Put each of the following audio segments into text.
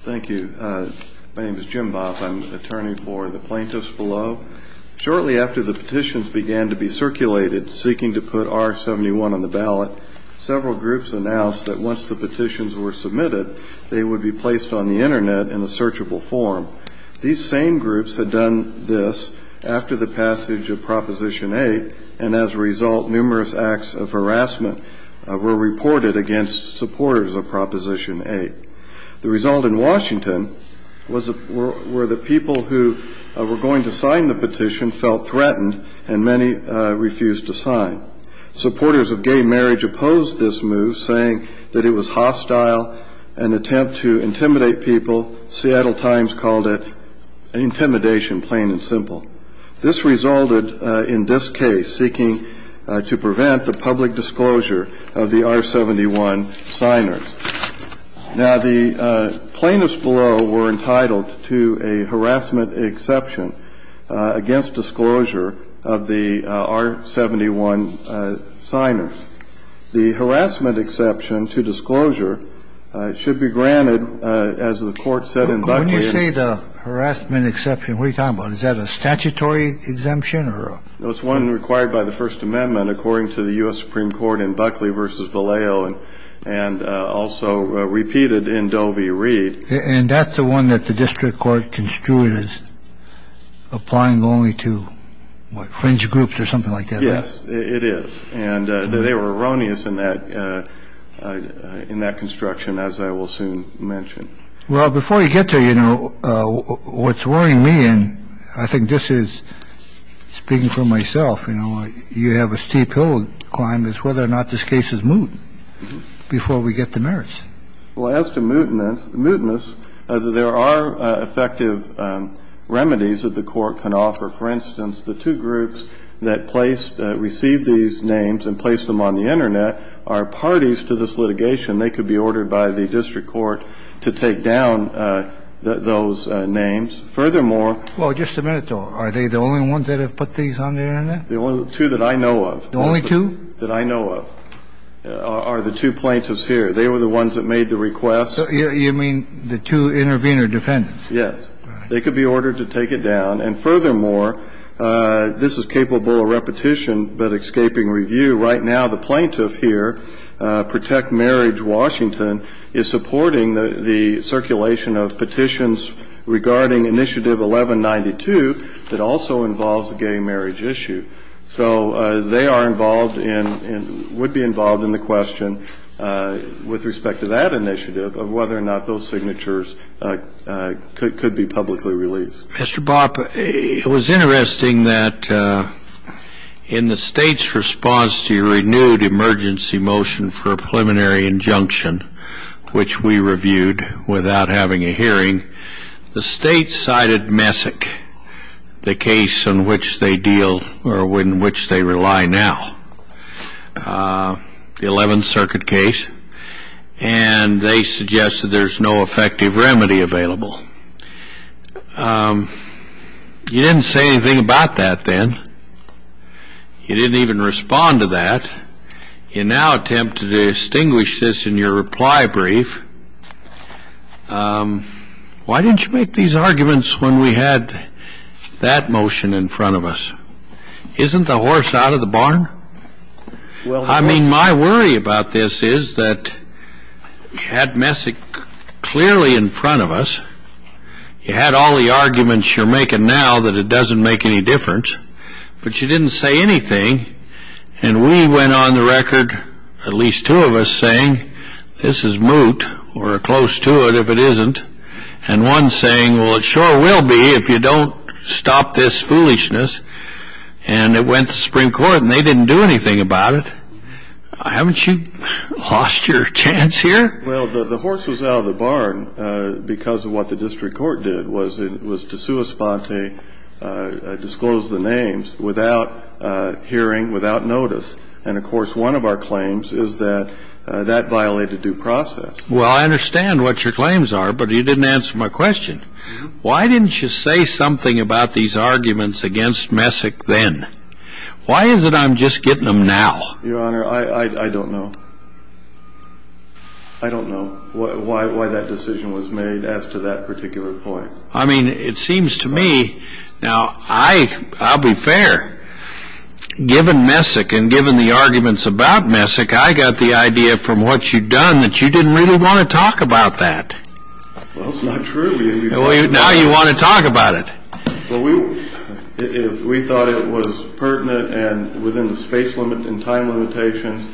Thank you. My name is Jim Bobb. I'm the attorney for the plaintiffs below. Shortly after the petitions began to be circulated seeking to put R-71 on the ballot, several groups announced that once the petitions were submitted, they would be placed on the Internet in a searchable form. These same groups had done this after the passage of Proposition 8, and as a result, numerous acts of harassment were reported against supporters of Proposition 8. The result in Washington was that the people who were going to sign the petition felt threatened, and many refused to sign. Supporters of gay marriage opposed this move, saying that it was hostile and an attempt to intimidate people. The Seattle Times called it intimidation, plain and simple. This resulted in this case seeking to prevent the public disclosure of the R-71 signers. Now, the plaintiffs below were entitled to a harassment exception against disclosure of the R-71 signers. The harassment exception to disclosure should be granted, as the Court said in Buckley. When you say the harassment exception, what are you talking about? Is that a statutory exemption? It's one required by the First Amendment according to the U.S. Supreme Court in Buckley v. Vallejo and also repeated in Doe v. Reed. And that's the one that the district court construed as applying only to fringe groups or something like that. Yes, it is. And they were erroneous in that in that construction, as I will soon mention. Well, before you get there, you know, what's worrying me and I think this is speaking for myself, you know, before we get to merits. Well, as to mutinous, there are effective remedies that the court could offer. For instance, the two groups that receive these names and place them on the Internet are parties to this litigation. They could be ordered by the district court to take down those names. Furthermore — Well, just a minute though. Are they the only ones that have put these on the Internet? The only two that I know of. The only two? That I know of. Are the two plaintiffs here. They were the ones that made the request. You mean the two intervener defendants. Yes. They could be ordered to take it down. And furthermore, this is capable of repetition but escaping review. Right now, the plaintiff here, Protect Marriage Washington, is supporting the circulation of petitions regarding Initiative 1192 that also involves the gay marriage issue. So they are involved in — would be involved in the question with respect to that initiative of whether or not those signatures could be publicly released. Mr. Bopp, it was interesting that in the State's response to your renewed emergency motion for a preliminary injunction, which we reviewed without having a hearing, the State cited Messick, the case in which they deal or in which they rely now, the 11th Circuit case, and they suggested there's no effective remedy available. You didn't say anything about that then. You didn't even respond to that. You now attempt to distinguish this in your reply brief. Why didn't you make these arguments when we had that motion in front of us? Isn't the horse out of the barn? I mean, my worry about this is that you had Messick clearly in front of us. You had all the arguments you're making now that it doesn't make any difference. But you didn't say anything. And we went on the record, at least two of us, saying this is moot or close to it if it isn't, and one saying, well, it sure will be if you don't stop this foolishness. And it went to Supreme Court, and they didn't do anything about it. Haven't you lost your chance here? Well, the horse was out of the barn because of what the district court did, was to sua sponte, disclose the names, without hearing, without notice. And, of course, one of our claims is that that violated due process. Well, I understand what your claims are, but you didn't answer my question. Why didn't you say something about these arguments against Messick then? Why is it I'm just getting them now? Your Honor, I don't know. I don't know why that decision was made as to that particular point. I mean, it seems to me, now, I'll be fair, given Messick and given the arguments about Messick, I got the idea from what you'd done that you didn't really want to talk about that. Well, that's not true. Now you want to talk about it. Well, if we thought it was pertinent and within the space limit and time limitation,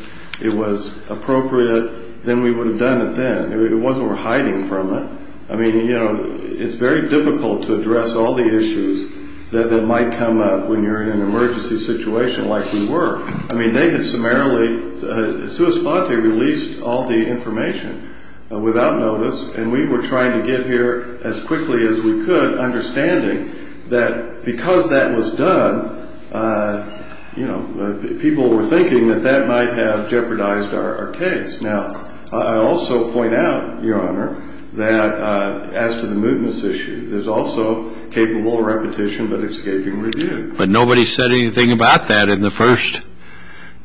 it was appropriate, then we would have done it then. It wasn't we're hiding from it. I mean, you know, it's very difficult to address all the issues that might come up when you're in an emergency situation like we were. I mean, they had summarily, sua sponte, released all the information without notice, and we were trying to get here as quickly as we could, understanding that because that was done, you know, people were thinking that that might have jeopardized our case. Now, I also point out, Your Honor, that as to the movements issue, there's also capable repetition but escaping review. But nobody said anything about that in the first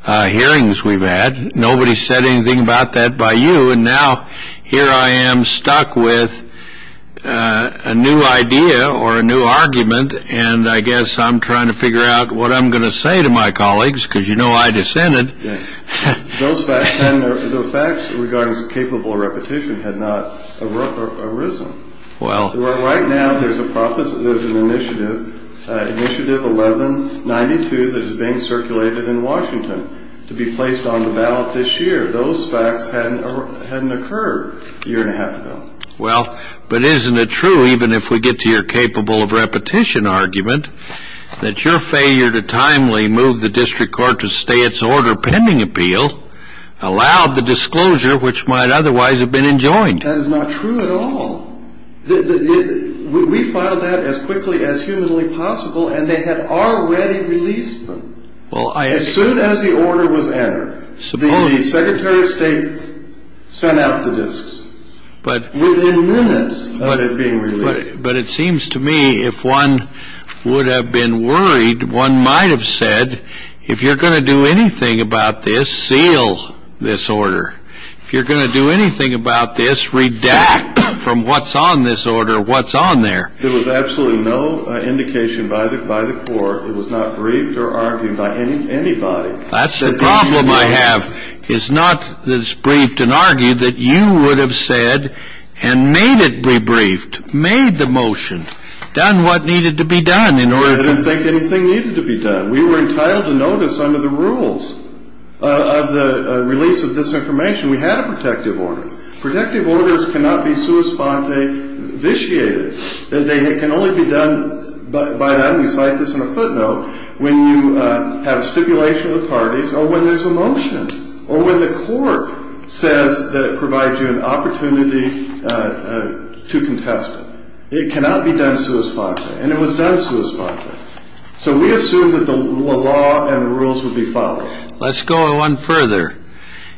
hearings we've had. Nobody said anything about that by you. And now here I am stuck with a new idea or a new argument, and I guess I'm trying to figure out what I'm going to say to my colleagues because you know I dissented. Those facts regarding capable repetition had not arisen. Right now there's an initiative, initiative 1192, that is being circulated in Washington to be placed on the ballot this year. Those facts hadn't occurred a year and a half ago. Well, but isn't it true, even if we get to your capable of repetition argument, that your failure to timely move the district court to stay its order pending appeal allowed the disclosure which might otherwise have been enjoined? That is not true at all. We filed that as quickly as humanly possible, and they had already released them. As soon as the order was entered, the secretary of state sent out the disks. Within minutes of it being released. But it seems to me if one would have been worried, one might have said, if you're going to do anything about this, seal this order. If you're going to do anything about this, redact from what's on this order what's on there. There was absolutely no indication by the court. It was not briefed or argued by anybody. That's the problem I have, is not that it's briefed and argued, that you would have said and made it be briefed, made the motion, done what needed to be done. I didn't think anything needed to be done. We were entitled to notice under the rules of the release of this information. We had a protective order. Protective orders cannot be sua sponte vitiated. They can only be done by then, we cite this in a footnote, when you have a stipulation of the parties or when there's a motion, or when the court says that it provides you an opportunity to contest it. It cannot be done sua sponte, and it was done sua sponte. So we assumed that the law and the rules would be followed. Let's go one further.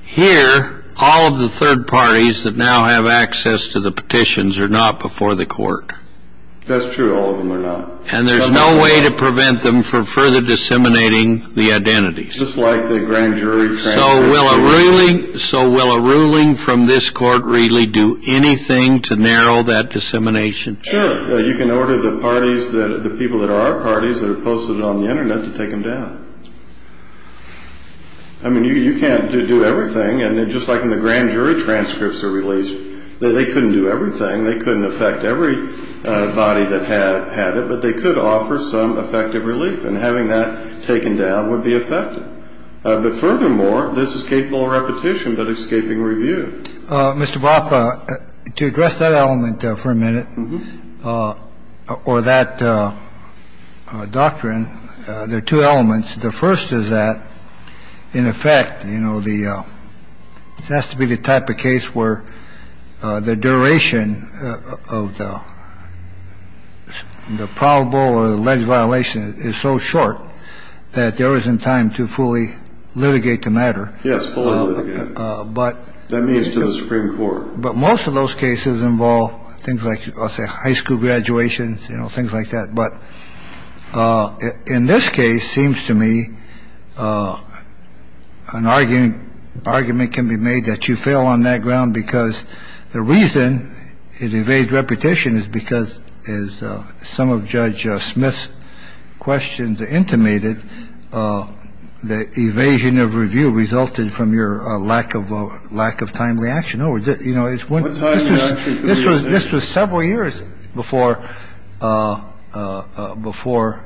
Here, all of the third parties that now have access to the petitions are not before the court. That's true, all of them are not. And there's no way to prevent them from further disseminating the identities. Just like the grand jury transfers. So will a ruling from this court really do anything to narrow that dissemination? Sure, you can order the parties, the people that are parties, that are posted on the Internet to take them down. I mean, you can't do everything. And just like in the grand jury transcripts are released, they couldn't do everything. They couldn't affect every body that had it, but they could offer some effective relief. And having that taken down would be effective. But furthermore, this is capable of repetition, but escaping review. Mr. Boff, to address that element for a minute, or that doctrine, there are two elements. The first is that in effect, you know, the it has to be the type of case where the duration of the probable or alleged violation is so short that there isn't time to fully litigate the matter. Yes. But that means to the Supreme Court. But most of those cases involve things like high school graduations, you know, things like that. But in this case, seems to me an argument can be made that you fail on that ground because the reason it evades repetition is because as some of Judge Smith's questions intimated, the evasion of review resulted from your lack of lack of timely action. No. You know, it's one time. This was this was several years before before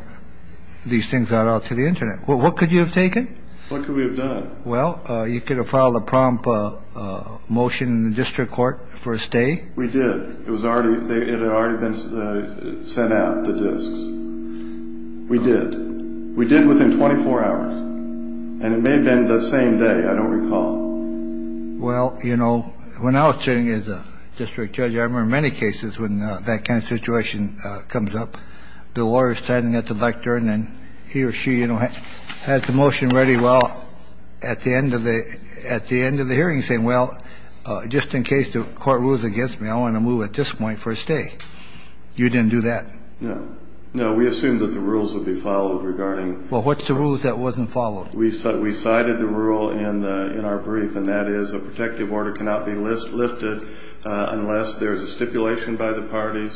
these things got out to the Internet. What could you have taken? What could we have done? Well, you could have filed a prompt motion in the district court for a stay. We did. It was already there. It had already been sent out the disks. We did. We did within 24 hours. And it may have been the same day. I don't recall. Well, you know, when I was sitting as a district judge, I remember many cases when that kind of situation comes up, the lawyers standing at the lectern and he or she, you know, had the motion ready. Well, at the end of the at the end of the hearing saying, well, just in case the court rules against me, I want to move at this point for a stay. You didn't do that. No, no. We assume that the rules will be followed regarding. Well, what's the rules that wasn't followed? We thought we cited the rule in in our brief, and that is a protective order cannot be listed, lifted unless there is a stipulation by the parties.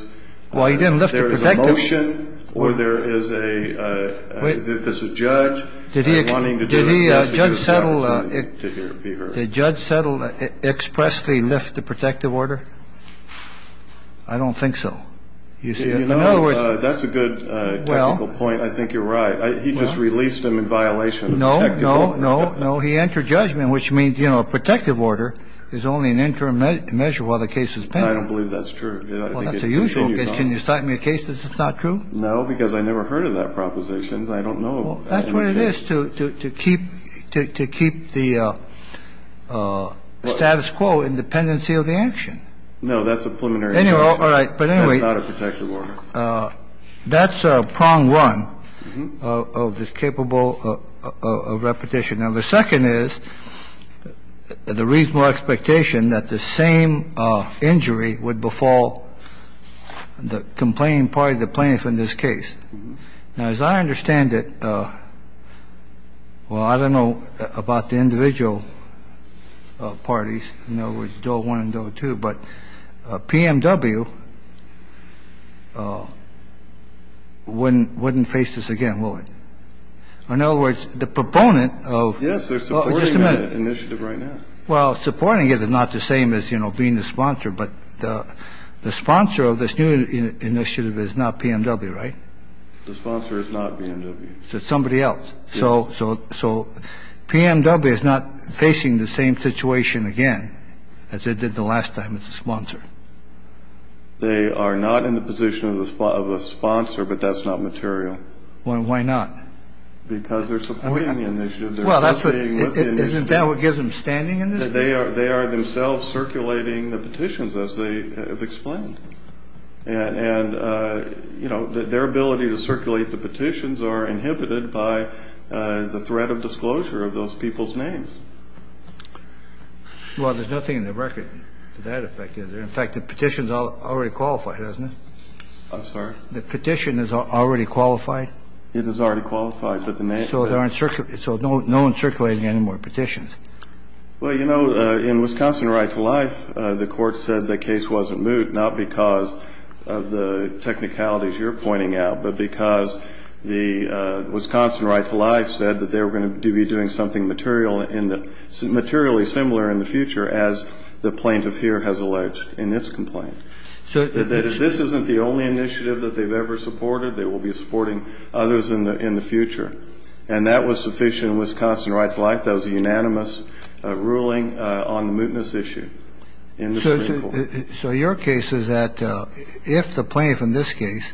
Well, you didn't lift the motion or there is a. If this is judge wanting to do the judge settle, the judge settled expressly lift the protective order. I don't think so. You see, you know, that's a good point. I think you're right. He just released him in violation. No, no, no, no. He entered judgment, which means, you know, a protective order is only an interim measure while the case is pending. I don't believe that's true. That's a usual case. Can you cite me a case that's not true? No, because I never heard of that proposition. I don't know. That's what it is to keep to keep the status quo in dependency of the action. No, that's a preliminary. All right. But anyway, not a protective order. All right. All right. All right. All right. All right. All right. So that's a prong one of the capable of repetition. Now, the second is the reasonable expectation that the same injury would befall the complaint in this case. Now, as I understand it, well, I don't know about the individual parties. No, we don't want to go to. But P.M.W. when wouldn't face this again. Well, in other words, the proponent of. Yes, there's some initiative right now. Well, supporting it is not the same as, you know, being the sponsor. But the sponsor of this new initiative is not P.M.W. right. The sponsor is not being to somebody else. So. So. So P.M.W. is not facing the same situation again as it did the last time. It's a sponsor. They are not in the position of the spot of a sponsor, but that's not material. Well, why not? Because they're supporting the initiative. Well, that's it. Isn't that what gives them standing? And they are they are themselves circulating the petitions as they have explained. And, you know, their ability to circulate the petitions are inhibited by the threat of disclosure of those people's names. Well, there's nothing in the record to that effect. In fact, the petitions are already qualified, isn't it? I'm sorry? The petition is already qualified. It is already qualified, but the name. So there aren't so no one circulating anymore petitions. Well, you know, in Wisconsin right to life, the court said the case was a moot not because of the technicalities you're pointing out, but because the Wisconsin right to life said that they were going to be doing something material in the materially similar in the future, as the plaintiff here has alleged in its complaint. So this isn't the only initiative that they've ever supported. They will be supporting others in the in the future. And that was sufficient. Wisconsin rights like those unanimous ruling on the mootness issue. So your case is that if the plaintiff in this case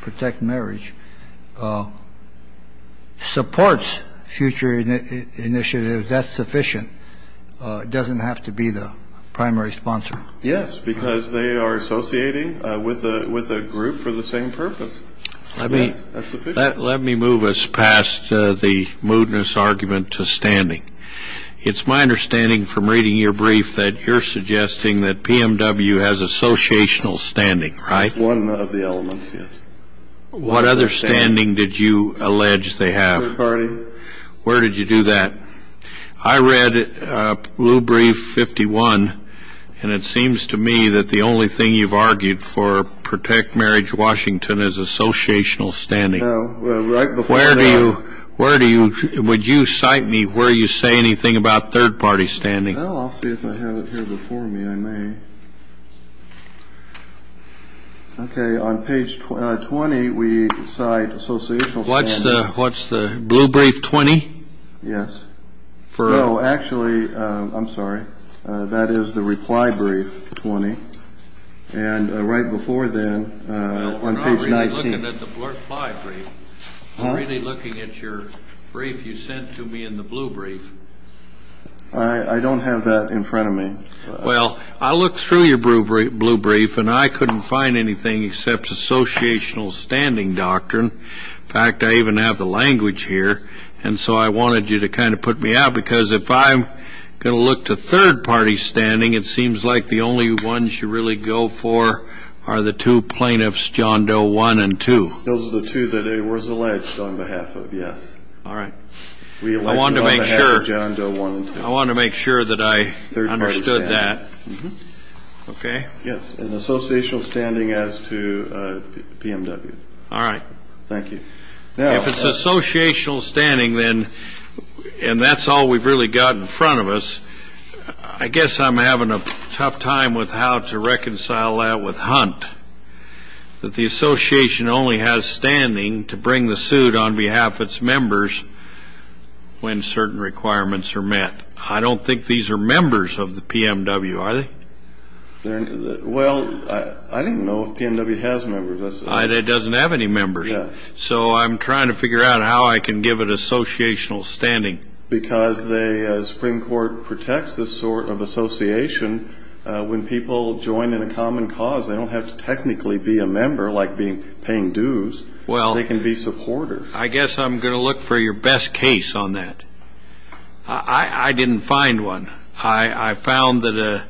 protect marriage supports future initiatives, that's sufficient. Doesn't have to be the primary sponsor. Yes, because they are associating with a with a group for the same purpose. I mean, let me move us past the mootness argument to standing. It's my understanding from reading your brief that you're suggesting that PMW has associational standing, right? One of the elements. What other standing did you allege they have already? Where did you do that? I read Blue Brief 51. And it seems to me that the only thing you've argued for protect marriage. Washington is associational standing. Where do you where do you would you cite me where you say anything about third party standing? I'll see if I have it here before me. I may. OK. On page 20, we cite associational. What's the what's the Blue Brief 20? Yes. For. Oh, actually, I'm sorry. That is the reply brief 20. And right before then, on page 19. Looking at the reply brief. Really looking at your brief you sent to me in the Blue Brief. I don't have that in front of me. Well, I looked through your Blue Brief and I couldn't find anything except associational standing doctrine. In fact, I even have the language here. And so I wanted you to kind of put me out because if I'm going to look to third party standing, it seems like the only ones you really go for are the two plaintiffs, John Doe one and two. Those are the two that it was alleged on behalf of. Yes. All right. I want to make sure. I want to make sure that I understood that. OK. Yes. And associational standing as to BMW. All right. Thank you. Now, if it's associational standing, then. And that's all we've really got in front of us. I guess I'm having a tough time with how to reconcile that with Hunt. But the association only has standing to bring the suit on behalf of its members when certain requirements are met. I don't think these are members of the BMW, are they? Well, I didn't know if BMW has members. It doesn't have any members. So I'm trying to figure out how I can give it associational standing. Because the Supreme Court protects this sort of association. When people join in a common cause, they don't have to technically be a member like being paying dues. Well, they can be supporters. I guess I'm going to look for your best case on that. I didn't find one. I found that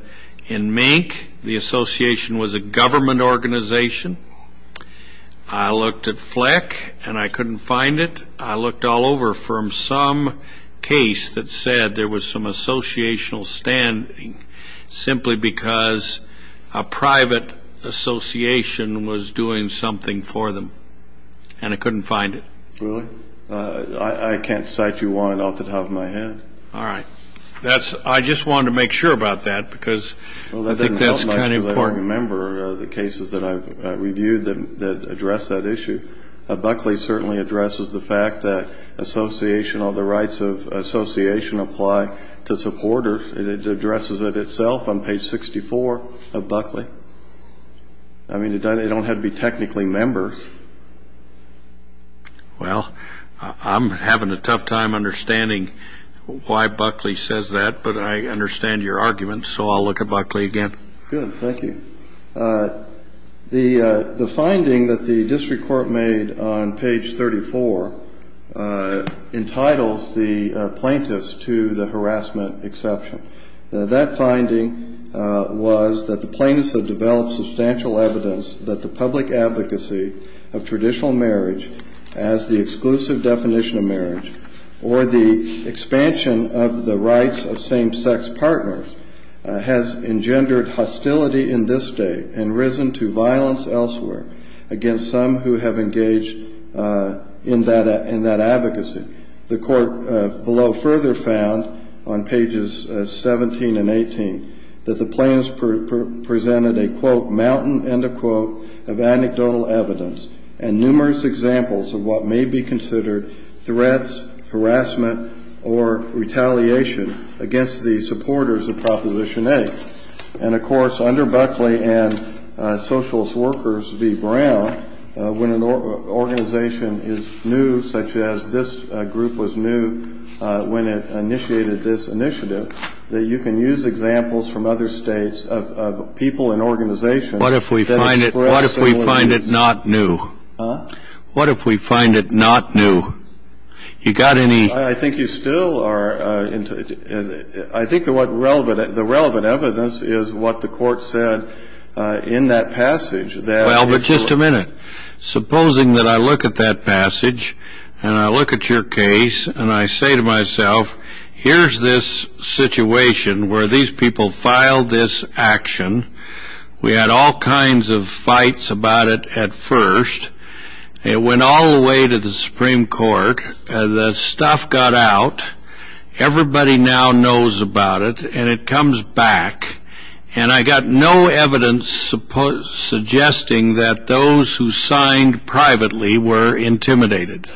in Mank the association was a government organization. I looked at Fleck and I couldn't find it. I looked all over from some case that said there was some associational standing simply because a private association was doing something for them. And I couldn't find it. Really? I can't cite you one off the top of my head. All right. I just wanted to make sure about that because I think that's kind of important. Well, that doesn't help much because I don't remember the cases that I've reviewed that address that issue. Buckley certainly addresses the fact that association or the rights of association apply to supporters. It addresses it itself on page 64 of Buckley. I mean, it don't have to be technically members. Well, I'm having a tough time understanding why Buckley says that, but I understand your argument. So I'll look at Buckley again. Good. Thank you. The finding that the district court made on page 34 entitles the plaintiffs to the harassment exception. That finding was that the plaintiffs have developed substantial evidence that the public advocacy of traditional marriage as the exclusive definition of marriage or the expansion of the rights of same-sex partners has engendered hostility in this state and risen to violence elsewhere against some who have engaged in that advocacy. The court below further found on pages 17 and 18 that the plaintiffs presented a, quote, or retaliation against the supporters of Proposition 8. And, of course, under Buckley and Socialist Workers v. Brown, when an organization is new, such as this group was new when it initiated this initiative, that you can use examples from other states of people and organizations that express similar views. What if we find it not new? Huh? What if we find it not new? You got any? I think you still are. I think the relevant evidence is what the court said in that passage. Well, but just a minute. Supposing that I look at that passage and I look at your case and I say to myself, here's this situation where these people filed this action. We had all kinds of fights about it at first. It went all the way to the Supreme Court. The stuff got out. Everybody now knows about it. And it comes back. And I got no evidence suggesting that those who signed privately were intimidated.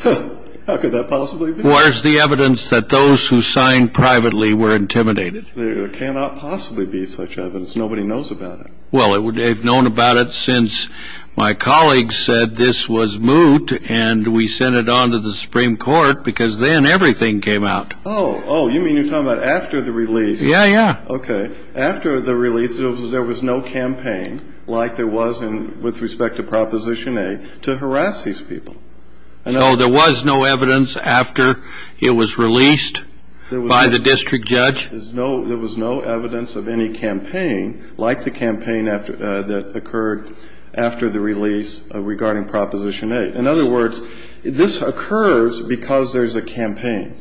How could that possibly be? Where's the evidence that those who signed privately were intimidated? There cannot possibly be such evidence. Nobody knows about it. Well, they've known about it since my colleague said this was moot and we sent it on to the Supreme Court because then everything came out. Oh, you mean you're talking about after the release? Yeah, yeah. Okay. After the release, there was no campaign like there was with respect to Proposition A to harass these people. No, there was no evidence after it was released by the district judge? There was no evidence of any campaign like the campaign that occurred after the release regarding Proposition A. In other words, this occurs because there's a campaign.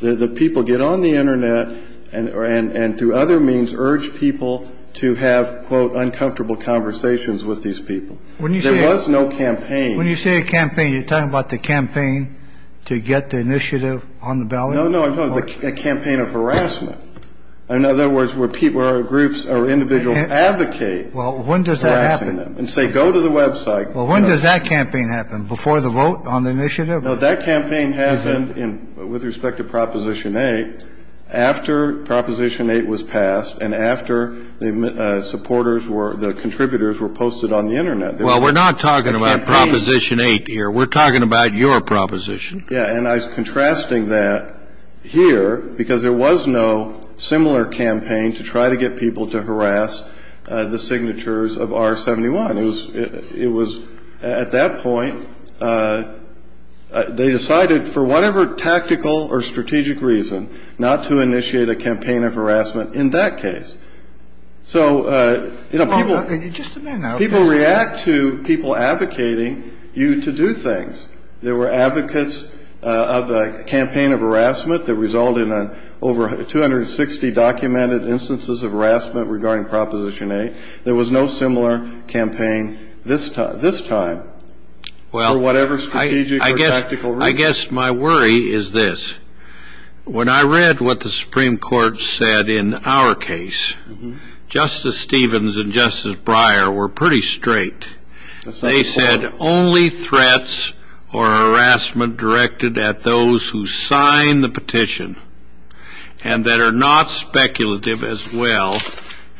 The people get on the Internet and through other means urge people to have, quote, uncomfortable conversations with these people. There was no campaign. When you say a campaign, you're talking about the campaign to get the initiative on the ballot? No, no, no. A campaign of harassment. In other words, where people or groups or individuals advocate harassing them and say go to the Web site. Well, when does that campaign happen? Before the vote on the initiative? No, that campaign happened with respect to Proposition A after Proposition A was passed and after the supporters were, the contributors were posted on the Internet. Well, we're not talking about Proposition A here. We're talking about your proposition. Yeah, and I was contrasting that here because there was no similar campaign to try to get people to harass the signatures of R-71. It was at that point they decided for whatever tactical or strategic reason not to initiate a campaign of harassment in that case. So, you know, people react to people advocating you to do things. There were advocates of a campaign of harassment that resulted in over 260 documented instances of harassment regarding Proposition A. There was no similar campaign this time for whatever strategic or tactical reason. Well, I guess my worry is this. When I read what the Supreme Court said in our case, Justice Stevens and Justice Breyer were pretty straight. They said only threats or harassment directed at those who sign the petition and that are not speculative as well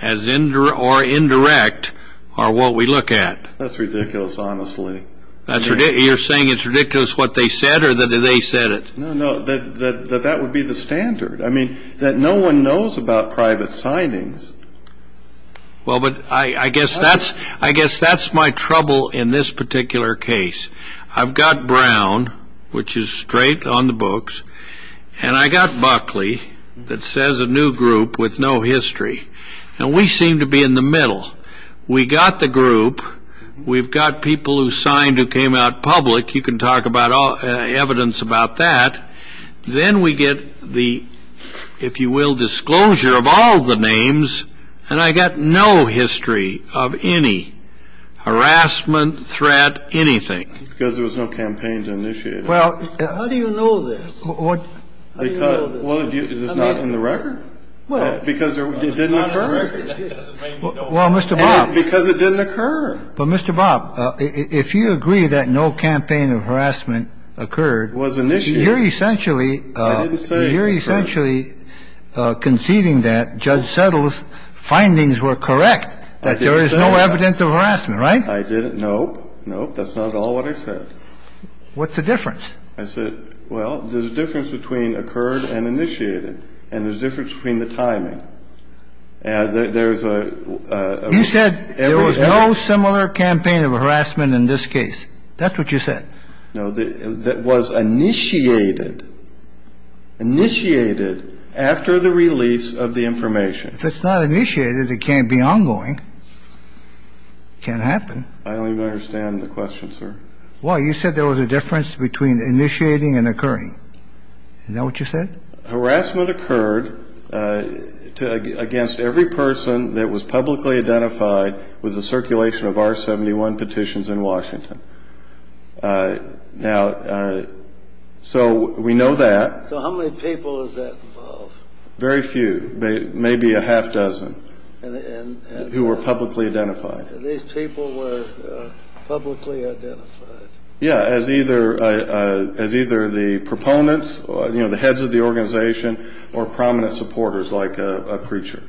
or indirect are what we look at. That's ridiculous, honestly. You're saying it's ridiculous what they said or that they said it? No, no, that that would be the standard. I mean, that no one knows about private signings. Well, but I guess that's my trouble in this particular case. I've got Brown, which is straight on the books, and I got Buckley that says a new group with no history. And we seem to be in the middle. We got the group. We've got people who signed who came out public. You can talk about evidence about that. Then we get the, if you will, disclosure of all the names. And I got no history of any harassment, threat, anything. Because there was no campaign to initiate. Well, how do you know this? Because it's not in the record. Because it didn't occur? Well, Mr. Bob. Because it didn't occur. But Mr. Bob, if you agree that no campaign of harassment occurred. Was initiated. You're essentially conceding that Judge Settle's findings were correct, that there is no evidence of harassment, right? I didn't. Nope, nope. That's not at all what I said. What's the difference? I said, well, there's a difference between occurred and initiated. And there's a difference between the timing. You said there was no similar campaign of harassment in this case. That's what you said. No. That was initiated. Initiated after the release of the information. If it's not initiated, it can't be ongoing. It can't happen. I don't even understand the question, sir. Well, you said there was a difference between initiating and occurring. Is that what you said? Harassment occurred against every person that was publicly identified with the circulation of R-71 petitions in Washington. Now, so we know that. So how many people is that involved? Very few. Maybe a half dozen who were publicly identified. These people were publicly identified. Yeah, as either the proponents, you know, the heads of the organization or prominent supporters like a preacher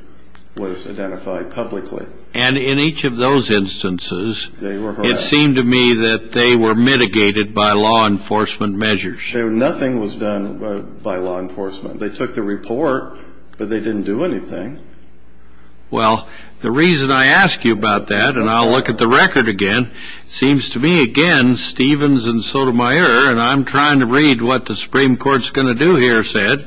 was identified publicly. And in each of those instances, it seemed to me that they were mitigated by law enforcement measures. Nothing was done by law enforcement. They took the report, but they didn't do anything. Well, the reason I ask you about that, and I'll look at the record again, seems to me, again, Stevens and Sotomayor, and I'm trying to read what the Supreme Court's going to do here, said,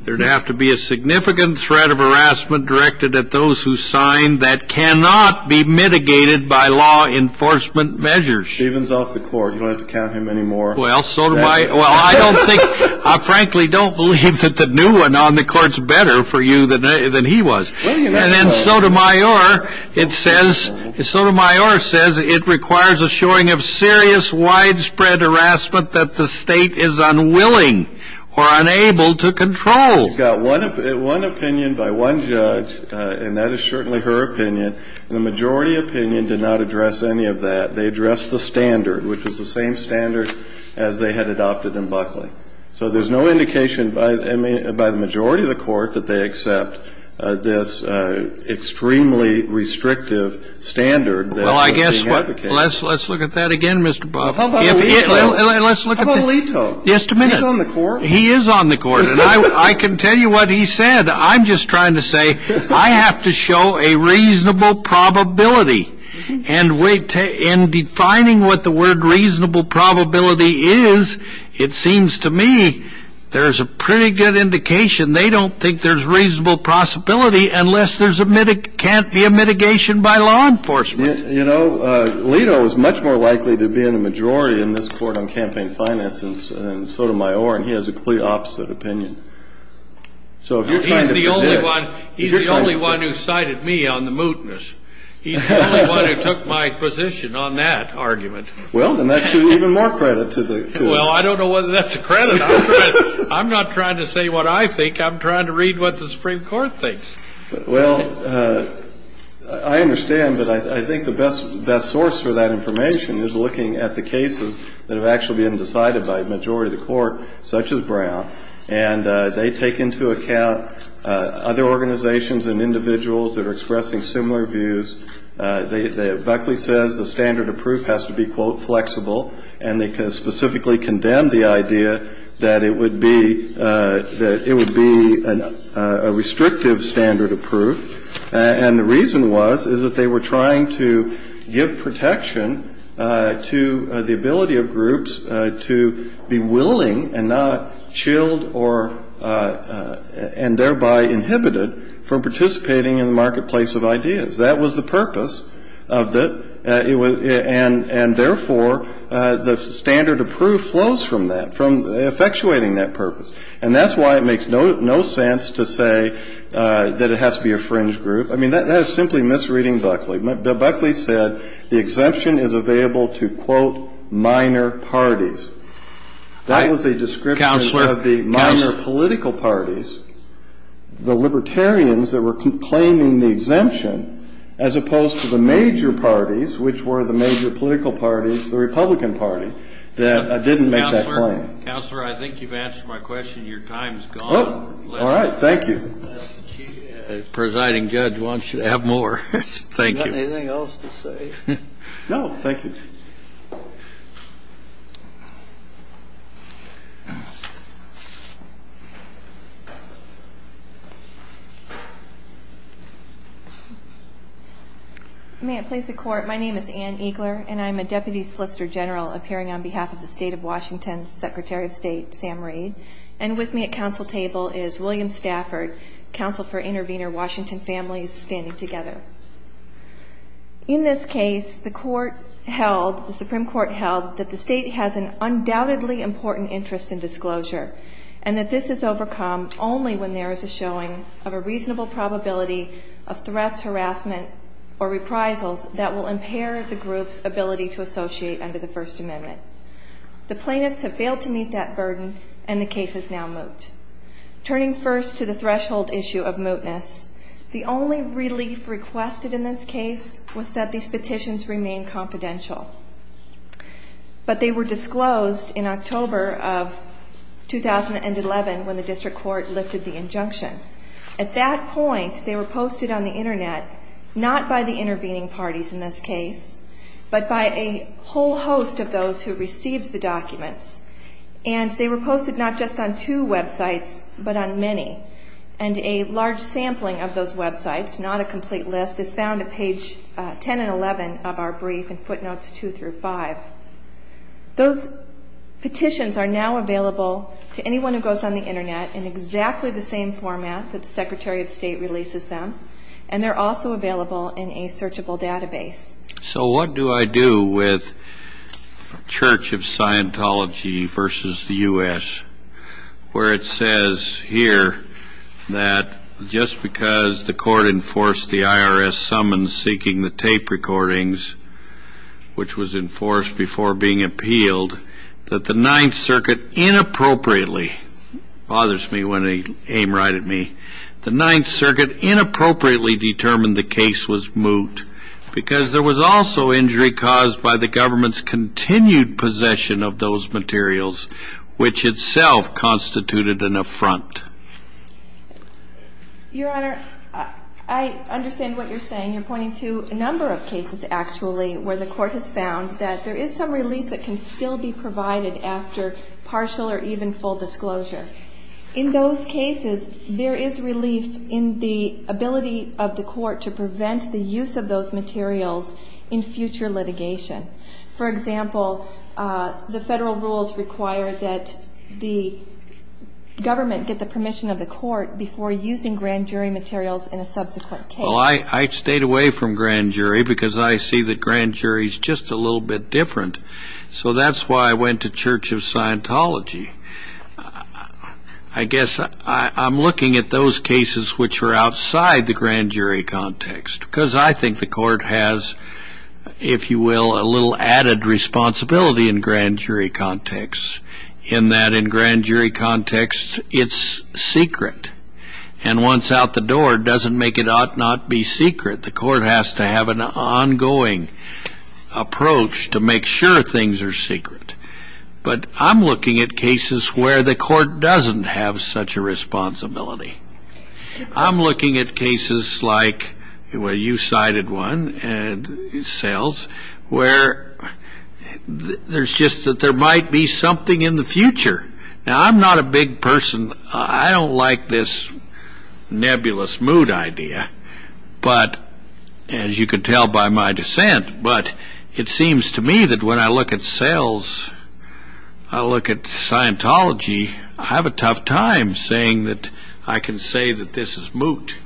there'd have to be a significant threat of harassment directed at those who signed that cannot be mitigated by law enforcement measures. Stevens off the court. You don't have to count him anymore. Well, Sotomayor, well, I don't think, I frankly don't believe that the new one on the court's better for you than he was. And then Sotomayor, it says, Sotomayor says it requires a showing of serious widespread harassment that the state is unwilling or unable to control. You've got one opinion by one judge, and that is certainly her opinion. The majority opinion did not address any of that. They addressed the standard, which was the same standard as they had adopted in Buckley. So there's no indication by the majority of the court that they accept this extremely restrictive standard that's being advocated. Well, I guess let's look at that again, Mr. Buffett. How about Leto? Just a minute. He's on the court. He is on the court, and I can tell you what he said. I'm just trying to say I have to show a reasonable probability. And in defining what the word reasonable probability is, it seems to me there's a pretty good indication they don't think there's reasonable possibility unless there can't be a mitigation by law enforcement. You know, Leto is much more likely to be in the majority in this court on campaign finance than Sotomayor, and he has a completely opposite opinion. He's the only one who cited me on the mootness. He's the only one who took my position on that argument. Well, then that's even more credit to the court. Well, I don't know whether that's credit. I'm not trying to say what I think. I'm trying to read what the Supreme Court thinks. Well, I understand, but I think the best source for that information is looking at the cases that have actually been decided by a majority of the court, such as Brown. And they take into account other organizations and individuals that are expressing similar views. Buckley says the standard of proof has to be, quote, flexible. And they specifically condemned the idea that it would be a restrictive standard of proof. And the reason was is that they were trying to give protection to the ability of groups to be willing and not chilled or and thereby inhibited from participating in the marketplace of ideas. That was the purpose of it. And therefore, the standard of proof flows from that, from effectuating that purpose. And that's why it makes no sense to say that it has to be a fringe group. I mean, that is simply misreading Buckley. Buckley said the exemption is available to, quote, minor parties. That was a description of the minor political parties, the libertarians that were claiming the exemption, as opposed to the major parties, which were the major political parties, the Republican Party, that didn't make that claim. Counselor, I think you've answered my question. Your time's gone. All right. Thank you. The presiding judge wants you to have more. Thank you. Anything else to say? No. Thank you. May it please the Court. My name is Ann Eagler, and I'm a deputy solicitor general appearing on behalf of the State of Washington's Secretary of State, Sam Reid. And with me at counsel table is William Stafford, counsel for intervener Washington Families Standing Together. In this case, the court held, the Supreme Court held, that the state has an undoubtedly important interest in disclosure, and that this is overcome only when there is a showing of a reasonable probability of threats, harassment, or reprisals that will impair the group's ability to associate under the First Amendment. The plaintiffs have failed to meet that burden, and the case is now moot. Turning first to the threshold issue of mootness, the only relief requested in this case was that these petitions remain confidential. But they were disclosed in October of 2011 when the district court lifted the injunction. At that point, they were posted on the Internet, not by the intervening parties in this case, but by a whole host of those who received the documents. And they were posted not just on two websites, but on many. And a large sampling of those websites, not a complete list, is found at page 10 and 11 of our brief in footnotes 2 through 5. Those petitions are now available to anyone who goes on the Internet in exactly the same format that the Secretary of State releases them, and they're also available in a searchable database. So what do I do with Church of Scientology versus the U.S., where it says here that just because the court enforced the IRS summons seeking the tape recordings, which was enforced before being appealed, that the Ninth Circuit inappropriately, bothers me when they aim right at me, the Ninth Circuit inappropriately determined the case was moot because there was also injury caused by the government's continued possession of those materials, which itself constituted an affront. Your Honor, I understand what you're saying. You're pointing to a number of cases, actually, where the court has found that there is some relief that can still be provided after partial or even full disclosure. In those cases, there is relief in the ability of the court to prevent the use of those materials in future litigation. For example, the federal rules require that the government get the permission of the court before using grand jury materials in a subsequent case. Well, I stayed away from grand jury, because I see that grand jury is just a little bit different. So that's why I went to Church of Scientology. I guess I'm looking at those cases which are outside the grand jury context, because I think the court has, if you will, a little added responsibility in grand jury context, in that in grand jury context, it's secret. And once out the door, it doesn't make it ought not be secret. The court has to have an ongoing approach to make sure things are secret. But I'm looking at cases where the court doesn't have such a responsibility. I'm looking at cases like, well, you cited one, sales, where there's just that there might be something in the future. Now, I'm not a big person. I don't like this nebulous moot idea. But as you can tell by my dissent, but it seems to me that when I look at sales, I look at Scientology, I have a tough time saying that I can say that this is moot.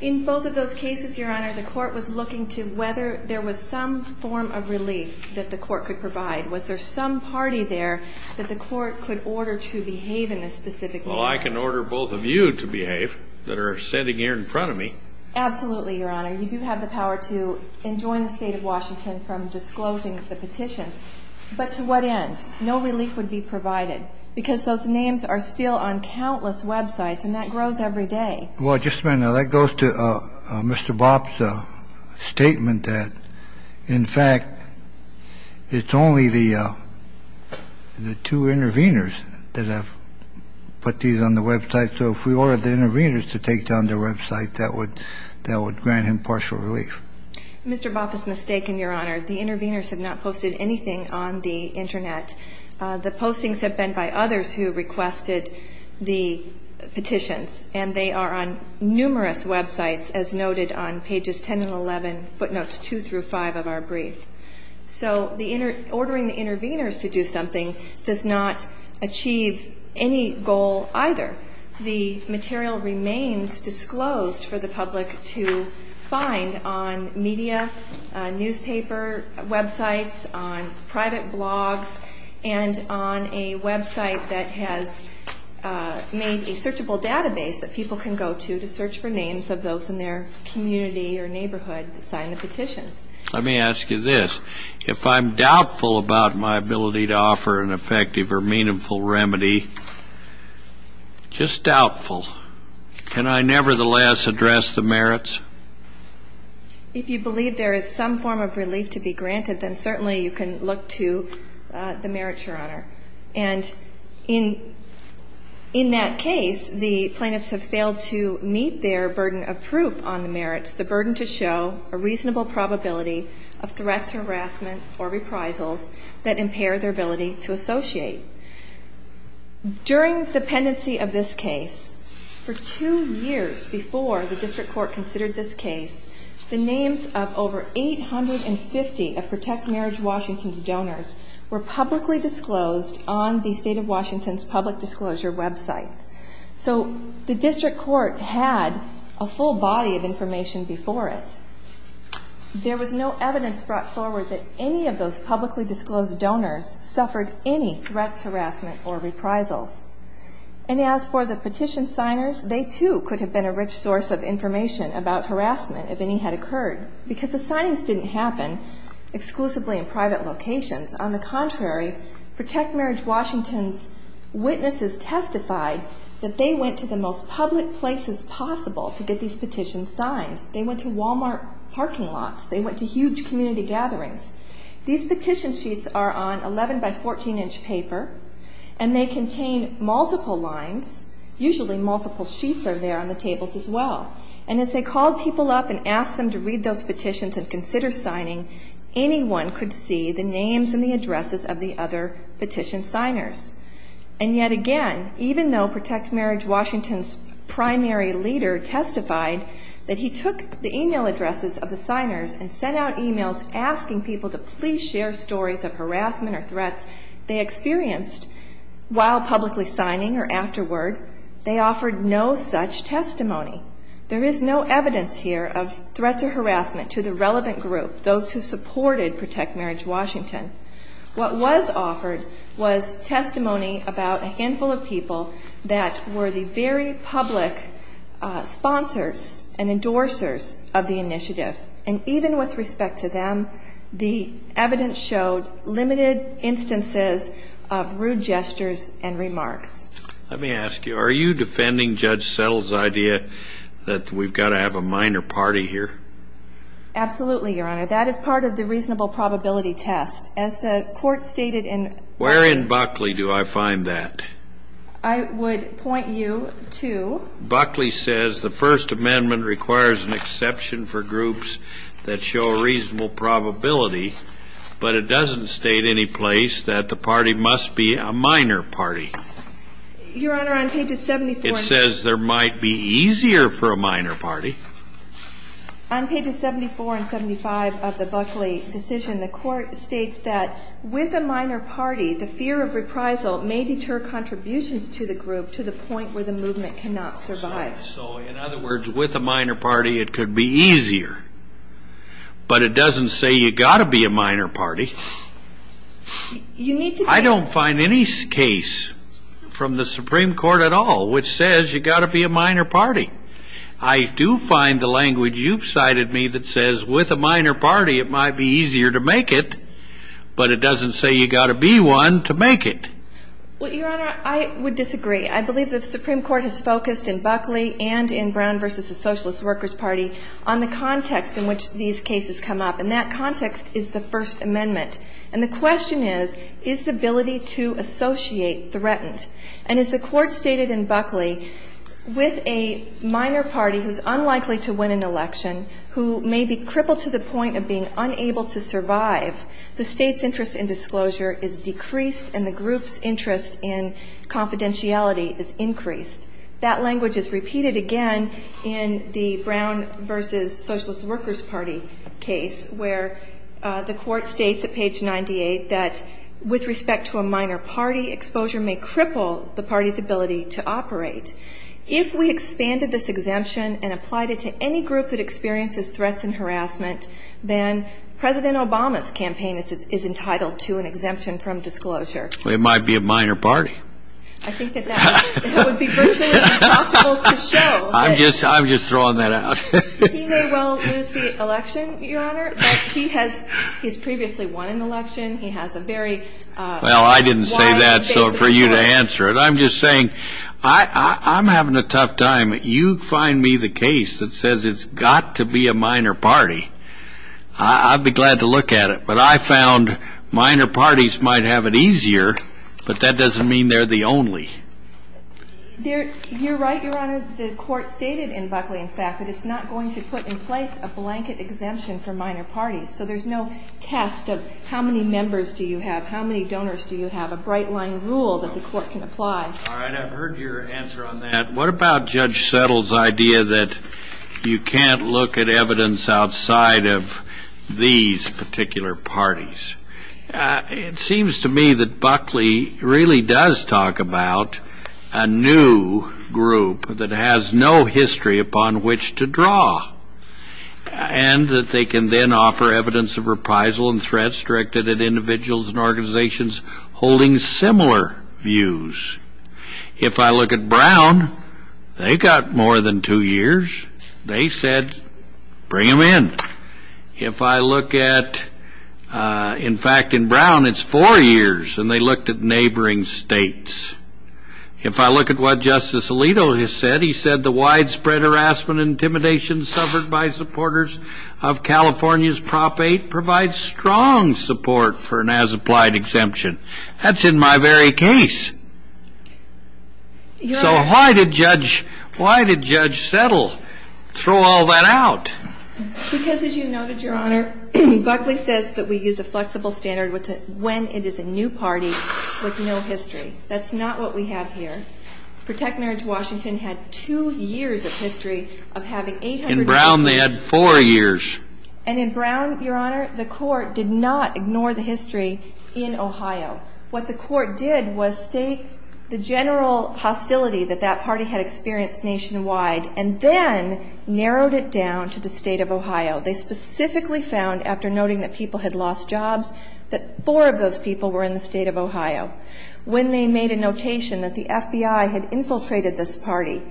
In both of those cases, Your Honor, the court was looking to whether there was some form of relief that the court could provide. Was there some party there that the court could order to behave in this specific way? Well, I can order both of you to behave that are sitting here in front of me. Absolutely, Your Honor. You do have the power to enjoin the State of Washington from disclosing the petitions. But to what end? No relief would be provided, because those names are still on countless websites, and that grows every day. Well, just a minute. Now, that goes to Mr. Bopp's statement that, in fact, it's only the two intervenors that have put these on the website. So if we ordered the intervenors to take down their website, that would grant him partial relief. Mr. Bopp is mistaken, Your Honor. The intervenors have not posted anything on the Internet. The postings have been by others who requested the petitions, and they are on numerous websites, as noted on pages 10 and 11, footnotes 2 through 5 of our brief. So ordering the intervenors to do something does not achieve any goal either. The material remains disclosed for the public to find on media, newspaper websites, on private blogs, and on a website that has made a searchable database that people can go to to search for names of those in their community or neighborhood that signed the petitions. Let me ask you this. If I'm doubtful about my ability to offer an effective or meaningful remedy, just doubtful, can I nevertheless address the merits? If you believe there is some form of relief to be granted, then certainly you can look to the merits, Your Honor. And in that case, the plaintiffs have failed to meet their burden of proof on the merits, the burden to show a reasonable probability of threats or harassment or reprisals that impair their ability to associate. During the pendency of this case, for two years before the district court considered this case, the names of over 850 of Protect Marriage Washington's donors were publicly disclosed on the State of Washington's public disclosure website. So the district court had a full body of information before it. There was no evidence brought forward that any of those publicly disclosed donors suffered any threats, harassment, or reprisals. And as for the petition signers, they, too, could have been a rich source of information about harassment if any had occurred because the signings didn't happen exclusively in private locations. On the contrary, Protect Marriage Washington's witnesses testified that they went to the most public places possible to get these petitions signed. They went to Walmart parking lots. They went to huge community gatherings. These petition sheets are on 11-by-14-inch paper, and they contain multiple lines. Usually multiple sheets are there on the tables as well. And as they called people up and asked them to read those petitions and consider signing, anyone could see the names and the addresses of the other petition signers. And yet again, even though Protect Marriage Washington's primary leader testified that he took the e-mail addresses of the signers and sent out e-mails asking people to please share stories of harassment or threats they experienced while publicly signing or afterward, they offered no such testimony. There is no evidence here of threats or harassment to the relevant group, those who supported Protect Marriage Washington. What was offered was testimony about a handful of people that were the very public sponsors and endorsers of the initiative. And even with respect to them, the evidence showed limited instances of rude gestures and remarks. Let me ask you, are you defending Judge Settle's idea that we've got to have a minor party here? Absolutely, Your Honor. That is part of the reasonable probability test. As the court stated in Buckley. Where in Buckley do I find that? I would point you to. Buckley says the First Amendment requires an exception for groups that show reasonable probability, but it doesn't state any place that the party must be a minor party. Your Honor, on pages 74 and 75. It says there might be easier for a minor party. On pages 74 and 75 of the Buckley decision, the court states that with a minor party, the fear of reprisal may deter contributions to the group to the point where the movement cannot survive. So in other words, with a minor party, it could be easier. But it doesn't say you've got to be a minor party. I don't find any case from the Supreme Court at all which says you've got to be a minor party. I do find the language you've cited me that says with a minor party, it might be easier to make it. But it doesn't say you've got to be one to make it. Well, Your Honor, I would disagree. I believe the Supreme Court has focused in Buckley and in Brown v. the Socialist Workers' Party on the context in which these cases come up. And that context is the First Amendment. And the question is, is the ability to associate threatened? And as the court stated in Buckley, with a minor party who's unlikely to win an election, who may be crippled to the point of being unable to survive, the state's interest in disclosure is decreased and the group's interest in confidentiality is increased. That language is repeated again in the Brown v. Socialist Workers' Party case where the court states at page 98 that with respect to a minor party, exposure may cripple the party's ability to operate. If we expanded this exemption and applied it to any group that experiences threats and harassment, then President Obama's campaign is entitled to an exemption from disclosure. Well, it might be a minor party. I think that that would be virtually impossible to show. I'm just throwing that out. He may well lose the election, Your Honor, but he has previously won an election. He has a very wide base of power. Well, I didn't say that for you to answer it. I'm just saying I'm having a tough time. You find me the case that says it's got to be a minor party. I'd be glad to look at it. But I found minor parties might have it easier, but that doesn't mean they're the only. You're right, Your Honor. The court stated in Buckley, in fact, that it's not going to put in place a blanket exemption for minor parties. So there's no test of how many members do you have, how many donors do you have, a bright-line rule that the court can apply. All right. I've heard your answer on that. What about Judge Settle's idea that you can't look at evidence outside of these particular parties? It seems to me that Buckley really does talk about a new group that has no history upon which to draw and that they can then offer evidence of reprisal and threats directed at individuals and organizations holding similar views. If I look at Brown, they've got more than two years. They said, bring them in. If I look at, in fact, in Brown, it's four years, and they looked at neighboring states. If I look at what Justice Alito has said, he said, California's Prop 8 provides strong support for an as-applied exemption. That's in my very case. So why did Judge Settle throw all that out? Because, as you noted, Your Honor, Buckley says that we use a flexible standard when it is a new party with no history. That's not what we have here. Protect Marriage Washington had two years of history of having 800 cases. In Brown, they had four years. And in Brown, Your Honor, the Court did not ignore the history in Ohio. What the Court did was state the general hostility that that party had experienced nationwide and then narrowed it down to the State of Ohio. They specifically found, after noting that people had lost jobs, that four of those people were in the State of Ohio. When they made a notation that the FBI had infiltrated this party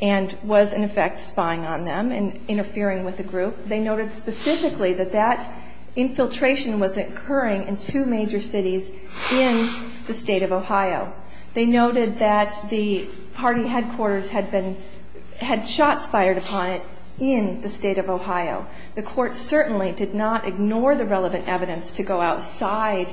and was, in effect, spying on them and interfering with the group, they noted specifically that that infiltration was occurring in two major cities in the State of Ohio. They noted that the party headquarters had been – had shots fired upon it in the State of Ohio. The Court certainly did not ignore the relevant evidence to go outside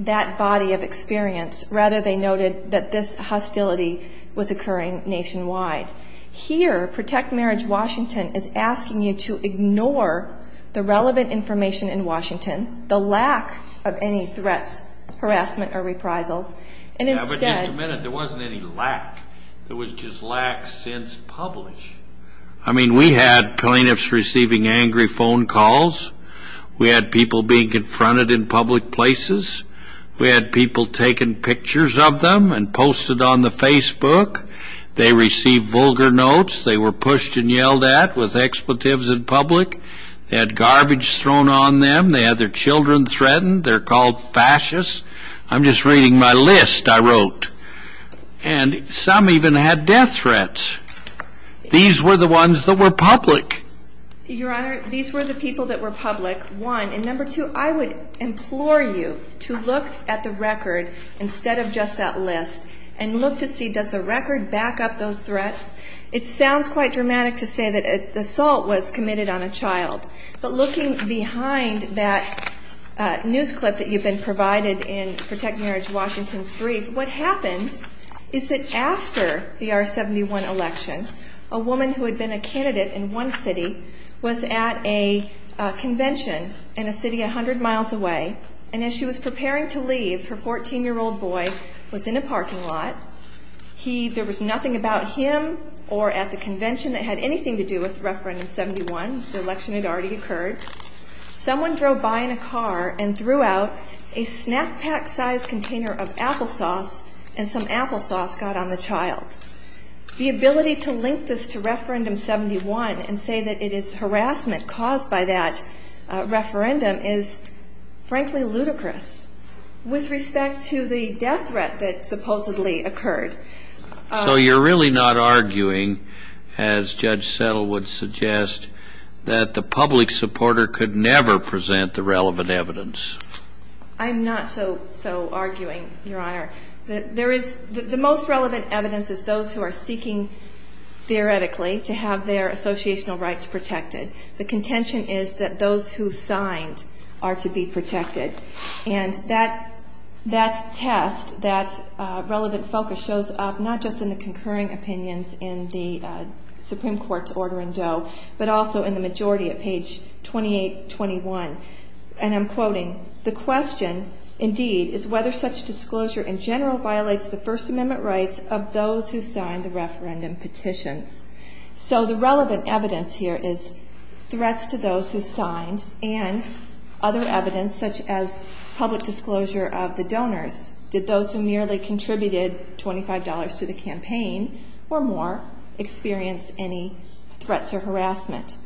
that body of experience. Rather, they noted that this hostility was occurring nationwide. Here, Protect Marriage Washington is asking you to ignore the relevant information in Washington, the lack of any threats, harassment, or reprisals, and instead – Yeah, but you submitted there wasn't any lack. There was just lack since published. I mean, we had plaintiffs receiving angry phone calls. We had people being confronted in public places. We had people taking pictures of them and posted on the Facebook. They received vulgar notes. They were pushed and yelled at with expletives in public. They had garbage thrown on them. They had their children threatened. They're called fascists. I'm just reading my list I wrote. And some even had death threats. These were the ones that were public. Your Honor, these were the people that were public, one. And number two, I would implore you to look at the record instead of just that list and look to see does the record back up those threats. It sounds quite dramatic to say that assault was committed on a child. But looking behind that news clip that you've been provided in Protect Marriage Washington's brief, what happened is that after the R-71 election, a woman who had been a candidate in one city was at a convention in a city 100 miles away. And as she was preparing to leave, her 14-year-old boy was in a parking lot. There was nothing about him or at the convention that had anything to do with Referendum 71. The election had already occurred. Someone drove by in a car and threw out a snack pack-sized container of applesauce, and some applesauce got on the child. The ability to link this to Referendum 71 and say that it is harassment caused by that referendum is, frankly, ludicrous. With respect to the death threat that supposedly occurred. So you're really not arguing, as Judge Settle would suggest, that the public supporter could never present the relevant evidence? I'm not so arguing, Your Honor. There is the most relevant evidence is those who are seeking theoretically to have their associational rights protected. The contention is that those who signed are to be protected. And that test, that relevant focus, shows up not just in the concurring opinions in the Supreme Court's order in Doe, but also in the majority at page 2821. And I'm quoting, The question, indeed, is whether such disclosure in general violates the First Amendment rights of those who signed the referendum petitions. So the relevant evidence here is threats to those who signed and other evidence such as public disclosure of the donors. Did those who merely contributed $25 to the campaign or more experience any threats or harassment?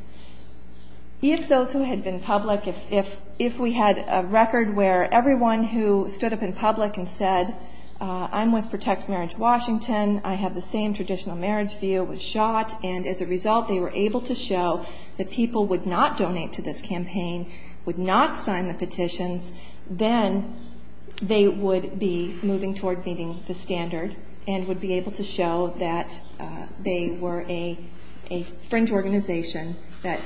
If those who had been public, if we had a record where everyone who stood up in public and said, I'm with Protect Marriage Washington, I have the same traditional marriage view, was shot, and as a result they were able to show that people would not donate to this campaign, would not sign the petitions, then they would be moving toward meeting the standard and would be able to show that they were a fringe organization that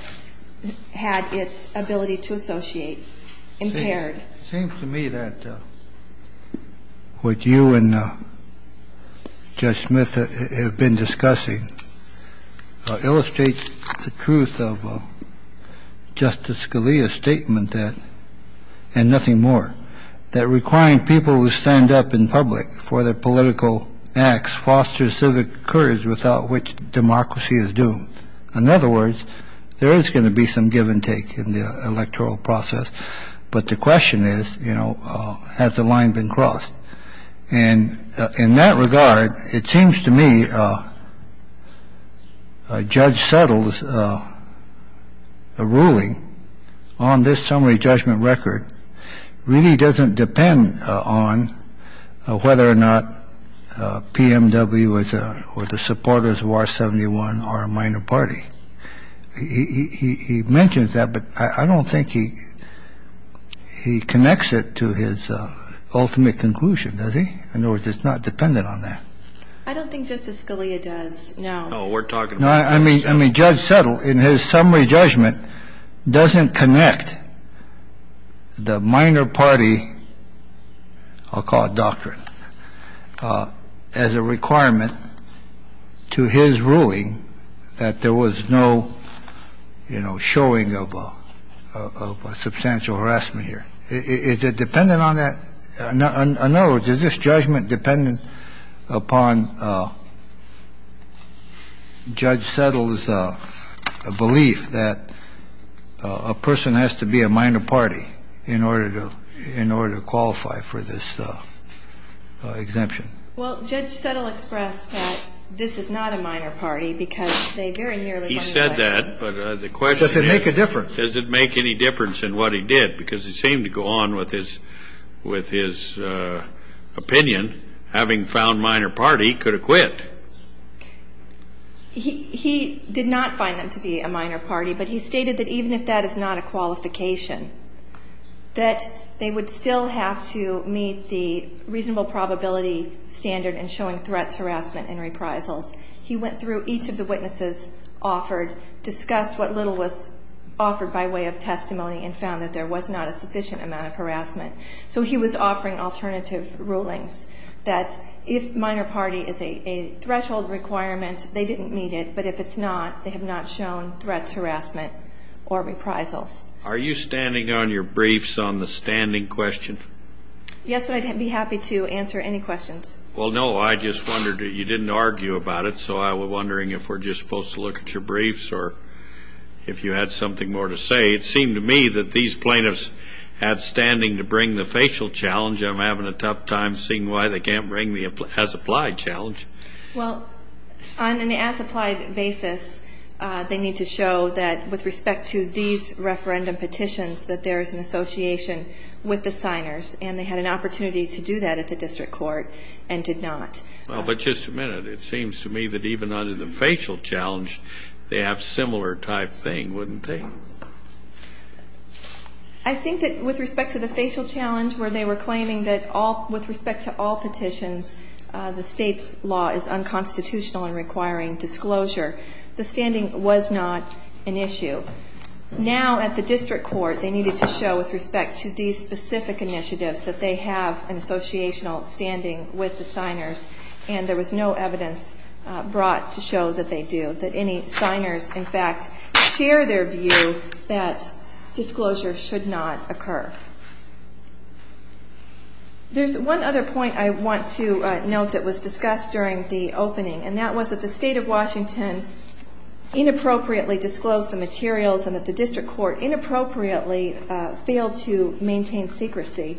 had its ability to associate impaired. It seems to me that what you and Judge Smith have been discussing illustrates the truth of Justice Scalia's statement that, and nothing more, that requiring people who stand up in public for their political acts fosters civic courage without which democracy is doomed. In other words, there is going to be some give and take in the electoral process. But the question is, you know, has the line been crossed? And in that regard, it seems to me Judge Settle's ruling on this summary judgment record really doesn't depend on whether or not PMW or the supporters of R-71 are a minor party. He mentions that, but I don't think he connects it to his ultimate conclusion, does he? In other words, it's not dependent on that. I don't think Justice Scalia does, no. No, we're talking about Judge Settle. I mean, Judge Settle in his summary judgment doesn't connect the minor party, I'll call it doctrine, as a requirement to his ruling that there was no showing of substantial harassment here. Is it dependent on that? In other words, is this judgment dependent upon Judge Settle's belief that a person has to be a minor party in order to qualify for this exemption? Well, Judge Settle expressed that this is not a minor party because they very nearly won the election. He said that, but the question is, does it make any difference in what he did? Because it seemed to go on with his opinion, having found minor party, could have quit. He did not find them to be a minor party, but he stated that even if that is not a qualification, that they would still have to meet the reasonable probability standard in showing threats, harassment, and reprisals. He went through each of the witnesses offered, discussed what little was offered by way of testimony, and found that there was not a sufficient amount of harassment. So he was offering alternative rulings that if minor party is a threshold requirement, they didn't meet it, but if it's not, they have not shown threats, harassment, or reprisals. Are you standing on your briefs on the standing question? Yes, but I'd be happy to answer any questions. Well, no, I just wondered. You didn't argue about it, so I was wondering if we're just supposed to look at your briefs or if you had something more to say. It seemed to me that these plaintiffs had standing to bring the facial challenge. I'm having a tough time seeing why they can't bring the as-applied challenge. Well, on an as-applied basis, they need to show that with respect to these referendum petitions that there is an association with the signers, and they had an opportunity to do that at the district court and did not. Well, but just a minute. It seems to me that even under the facial challenge, they have similar type thing, wouldn't they? I think that with respect to the facial challenge where they were claiming that with respect to all petitions, the State's law is unconstitutional and requiring disclosure, the standing was not an issue. Now at the district court, they needed to show with respect to these specific initiatives that they have an associational standing with the signers, and there was no evidence brought to show that they do, that any signers, in fact, share their view that disclosure should not occur. There's one other point I want to note that was discussed during the opening, and that was that the State of Washington inappropriately disclosed the materials and that the district court inappropriately failed to maintain secrecy.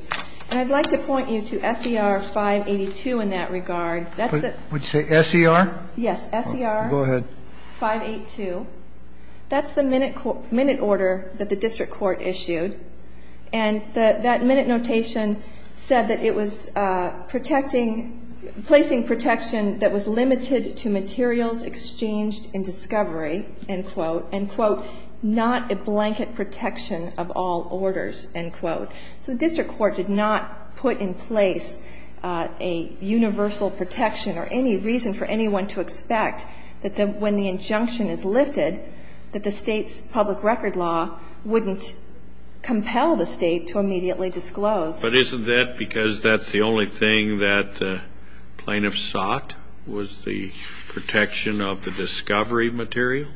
And I'd like to point you to S.E.R. 582 in that regard. Would you say S.E.R.? Yes, S.E.R. 582. That's the minute order that the district court issued, and that minute notation said that it was protecting, placing protection that was limited to materials exchanged in discovery, end quote, end quote, not a blanket protection of all orders, end quote. So the district court did not put in place a universal protection or any reason for anyone to expect that when the injunction is lifted, that the State's public record law wouldn't compel the State to immediately disclose. But isn't that because that's the only thing that plaintiffs sought, was the protection of the discovery material?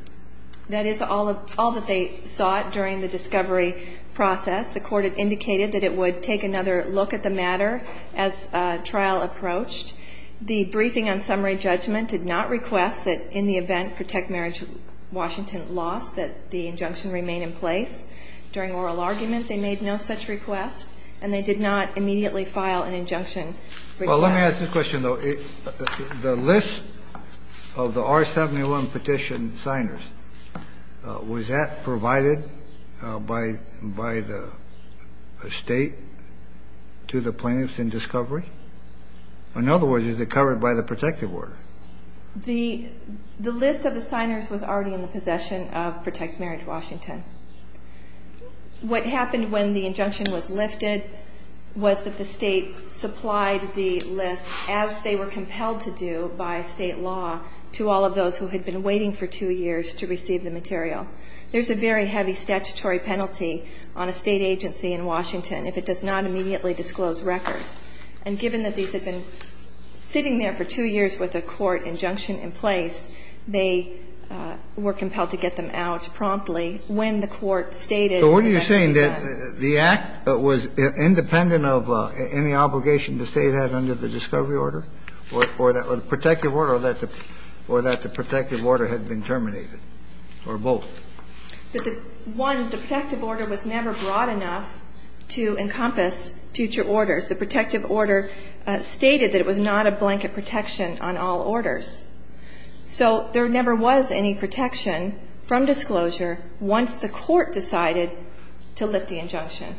That is all that they sought during the discovery process. The court had indicated that it would take another look at the matter as trial approached. The briefing on summary judgment did not request that in the event, Protect Marriage Washington lost, that the injunction remain in place. During oral argument, they made no such request, and they did not immediately file an injunction. Well, let me ask you a question, though. The list of the R71 petition signers, was that provided by the State to the plaintiffs in discovery? In other words, is it covered by the protective order? The list of the signers was already in the possession of Protect Marriage Washington. What happened when the injunction was lifted was that the State supplied the list, as they were compelled to do by State law, to all of those who had been waiting for two years to receive the material. There's a very heavy statutory penalty on a State agency in Washington if it does not immediately disclose records. And given that these had been sitting there for two years with a court injunction in place, they were compelled to get them out promptly when the court stated that they had to do that. So what are you saying? That the Act was independent of any obligation the State had under the discovery order, or the protective order, or that the protective order had been terminated, or both? One, the protective order was never broad enough to encompass future orders. The protective order stated that it was not a blanket protection on all orders. So there never was any protection from disclosure once the court decided to lift the injunction.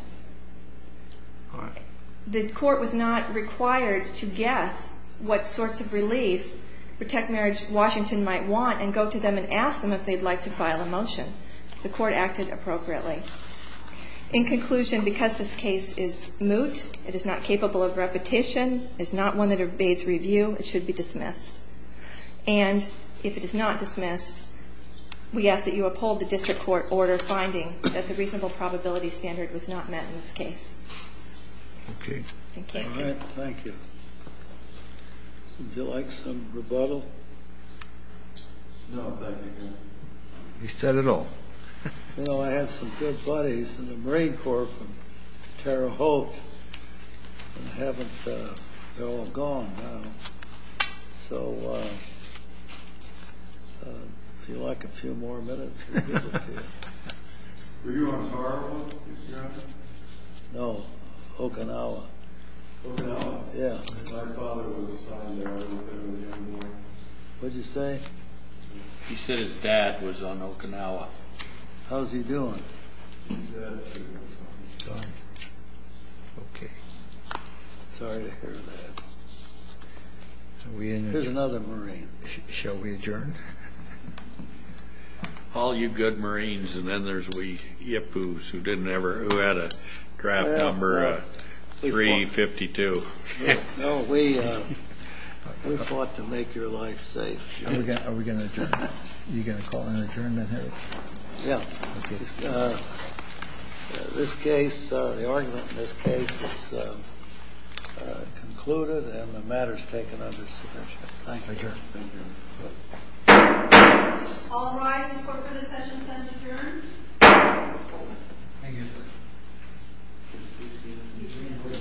The court was not required to guess what sorts of relief Protect Marriage Washington might want and go to them and ask them if they'd like to file a motion. The court acted appropriately. In conclusion, because this case is moot, it is not capable of repetition, it's not one that obeys review, it should be dismissed. And if it is not dismissed, we ask that you uphold the district court order finding that the reasonable probability standard was not met in this case. Okay. Thank you. All right. Thank you. Would you like some rebuttal? No, thank you, Your Honor. He said it all. You know, I had some good buddies in the Marine Corps from Terre Haute, and they're all gone now. So if you'd like a few more minutes, we'll give it to you. Were you on Terre Haute, Mr. Johnson? No, Okinawa. Okinawa? Yeah. My father was assigned there. I was there in the early morning. What'd you say? He said his dad was on Okinawa. How's he doing? He said he was on. Okay. Sorry to hear that. There's another Marine. Shall we adjourn? All you good Marines, and then there's we yippoos who didn't ever, who had a draft number 352. No, we fought to make your life safe. Are we going to adjourn now? Are you going to call an adjournment? Yeah. Okay. This case, the argument in this case is concluded, and the matter is taken under submission. Thank you. Adjourned. Thank you. All rise and report for the session is now adjourned. Thank you.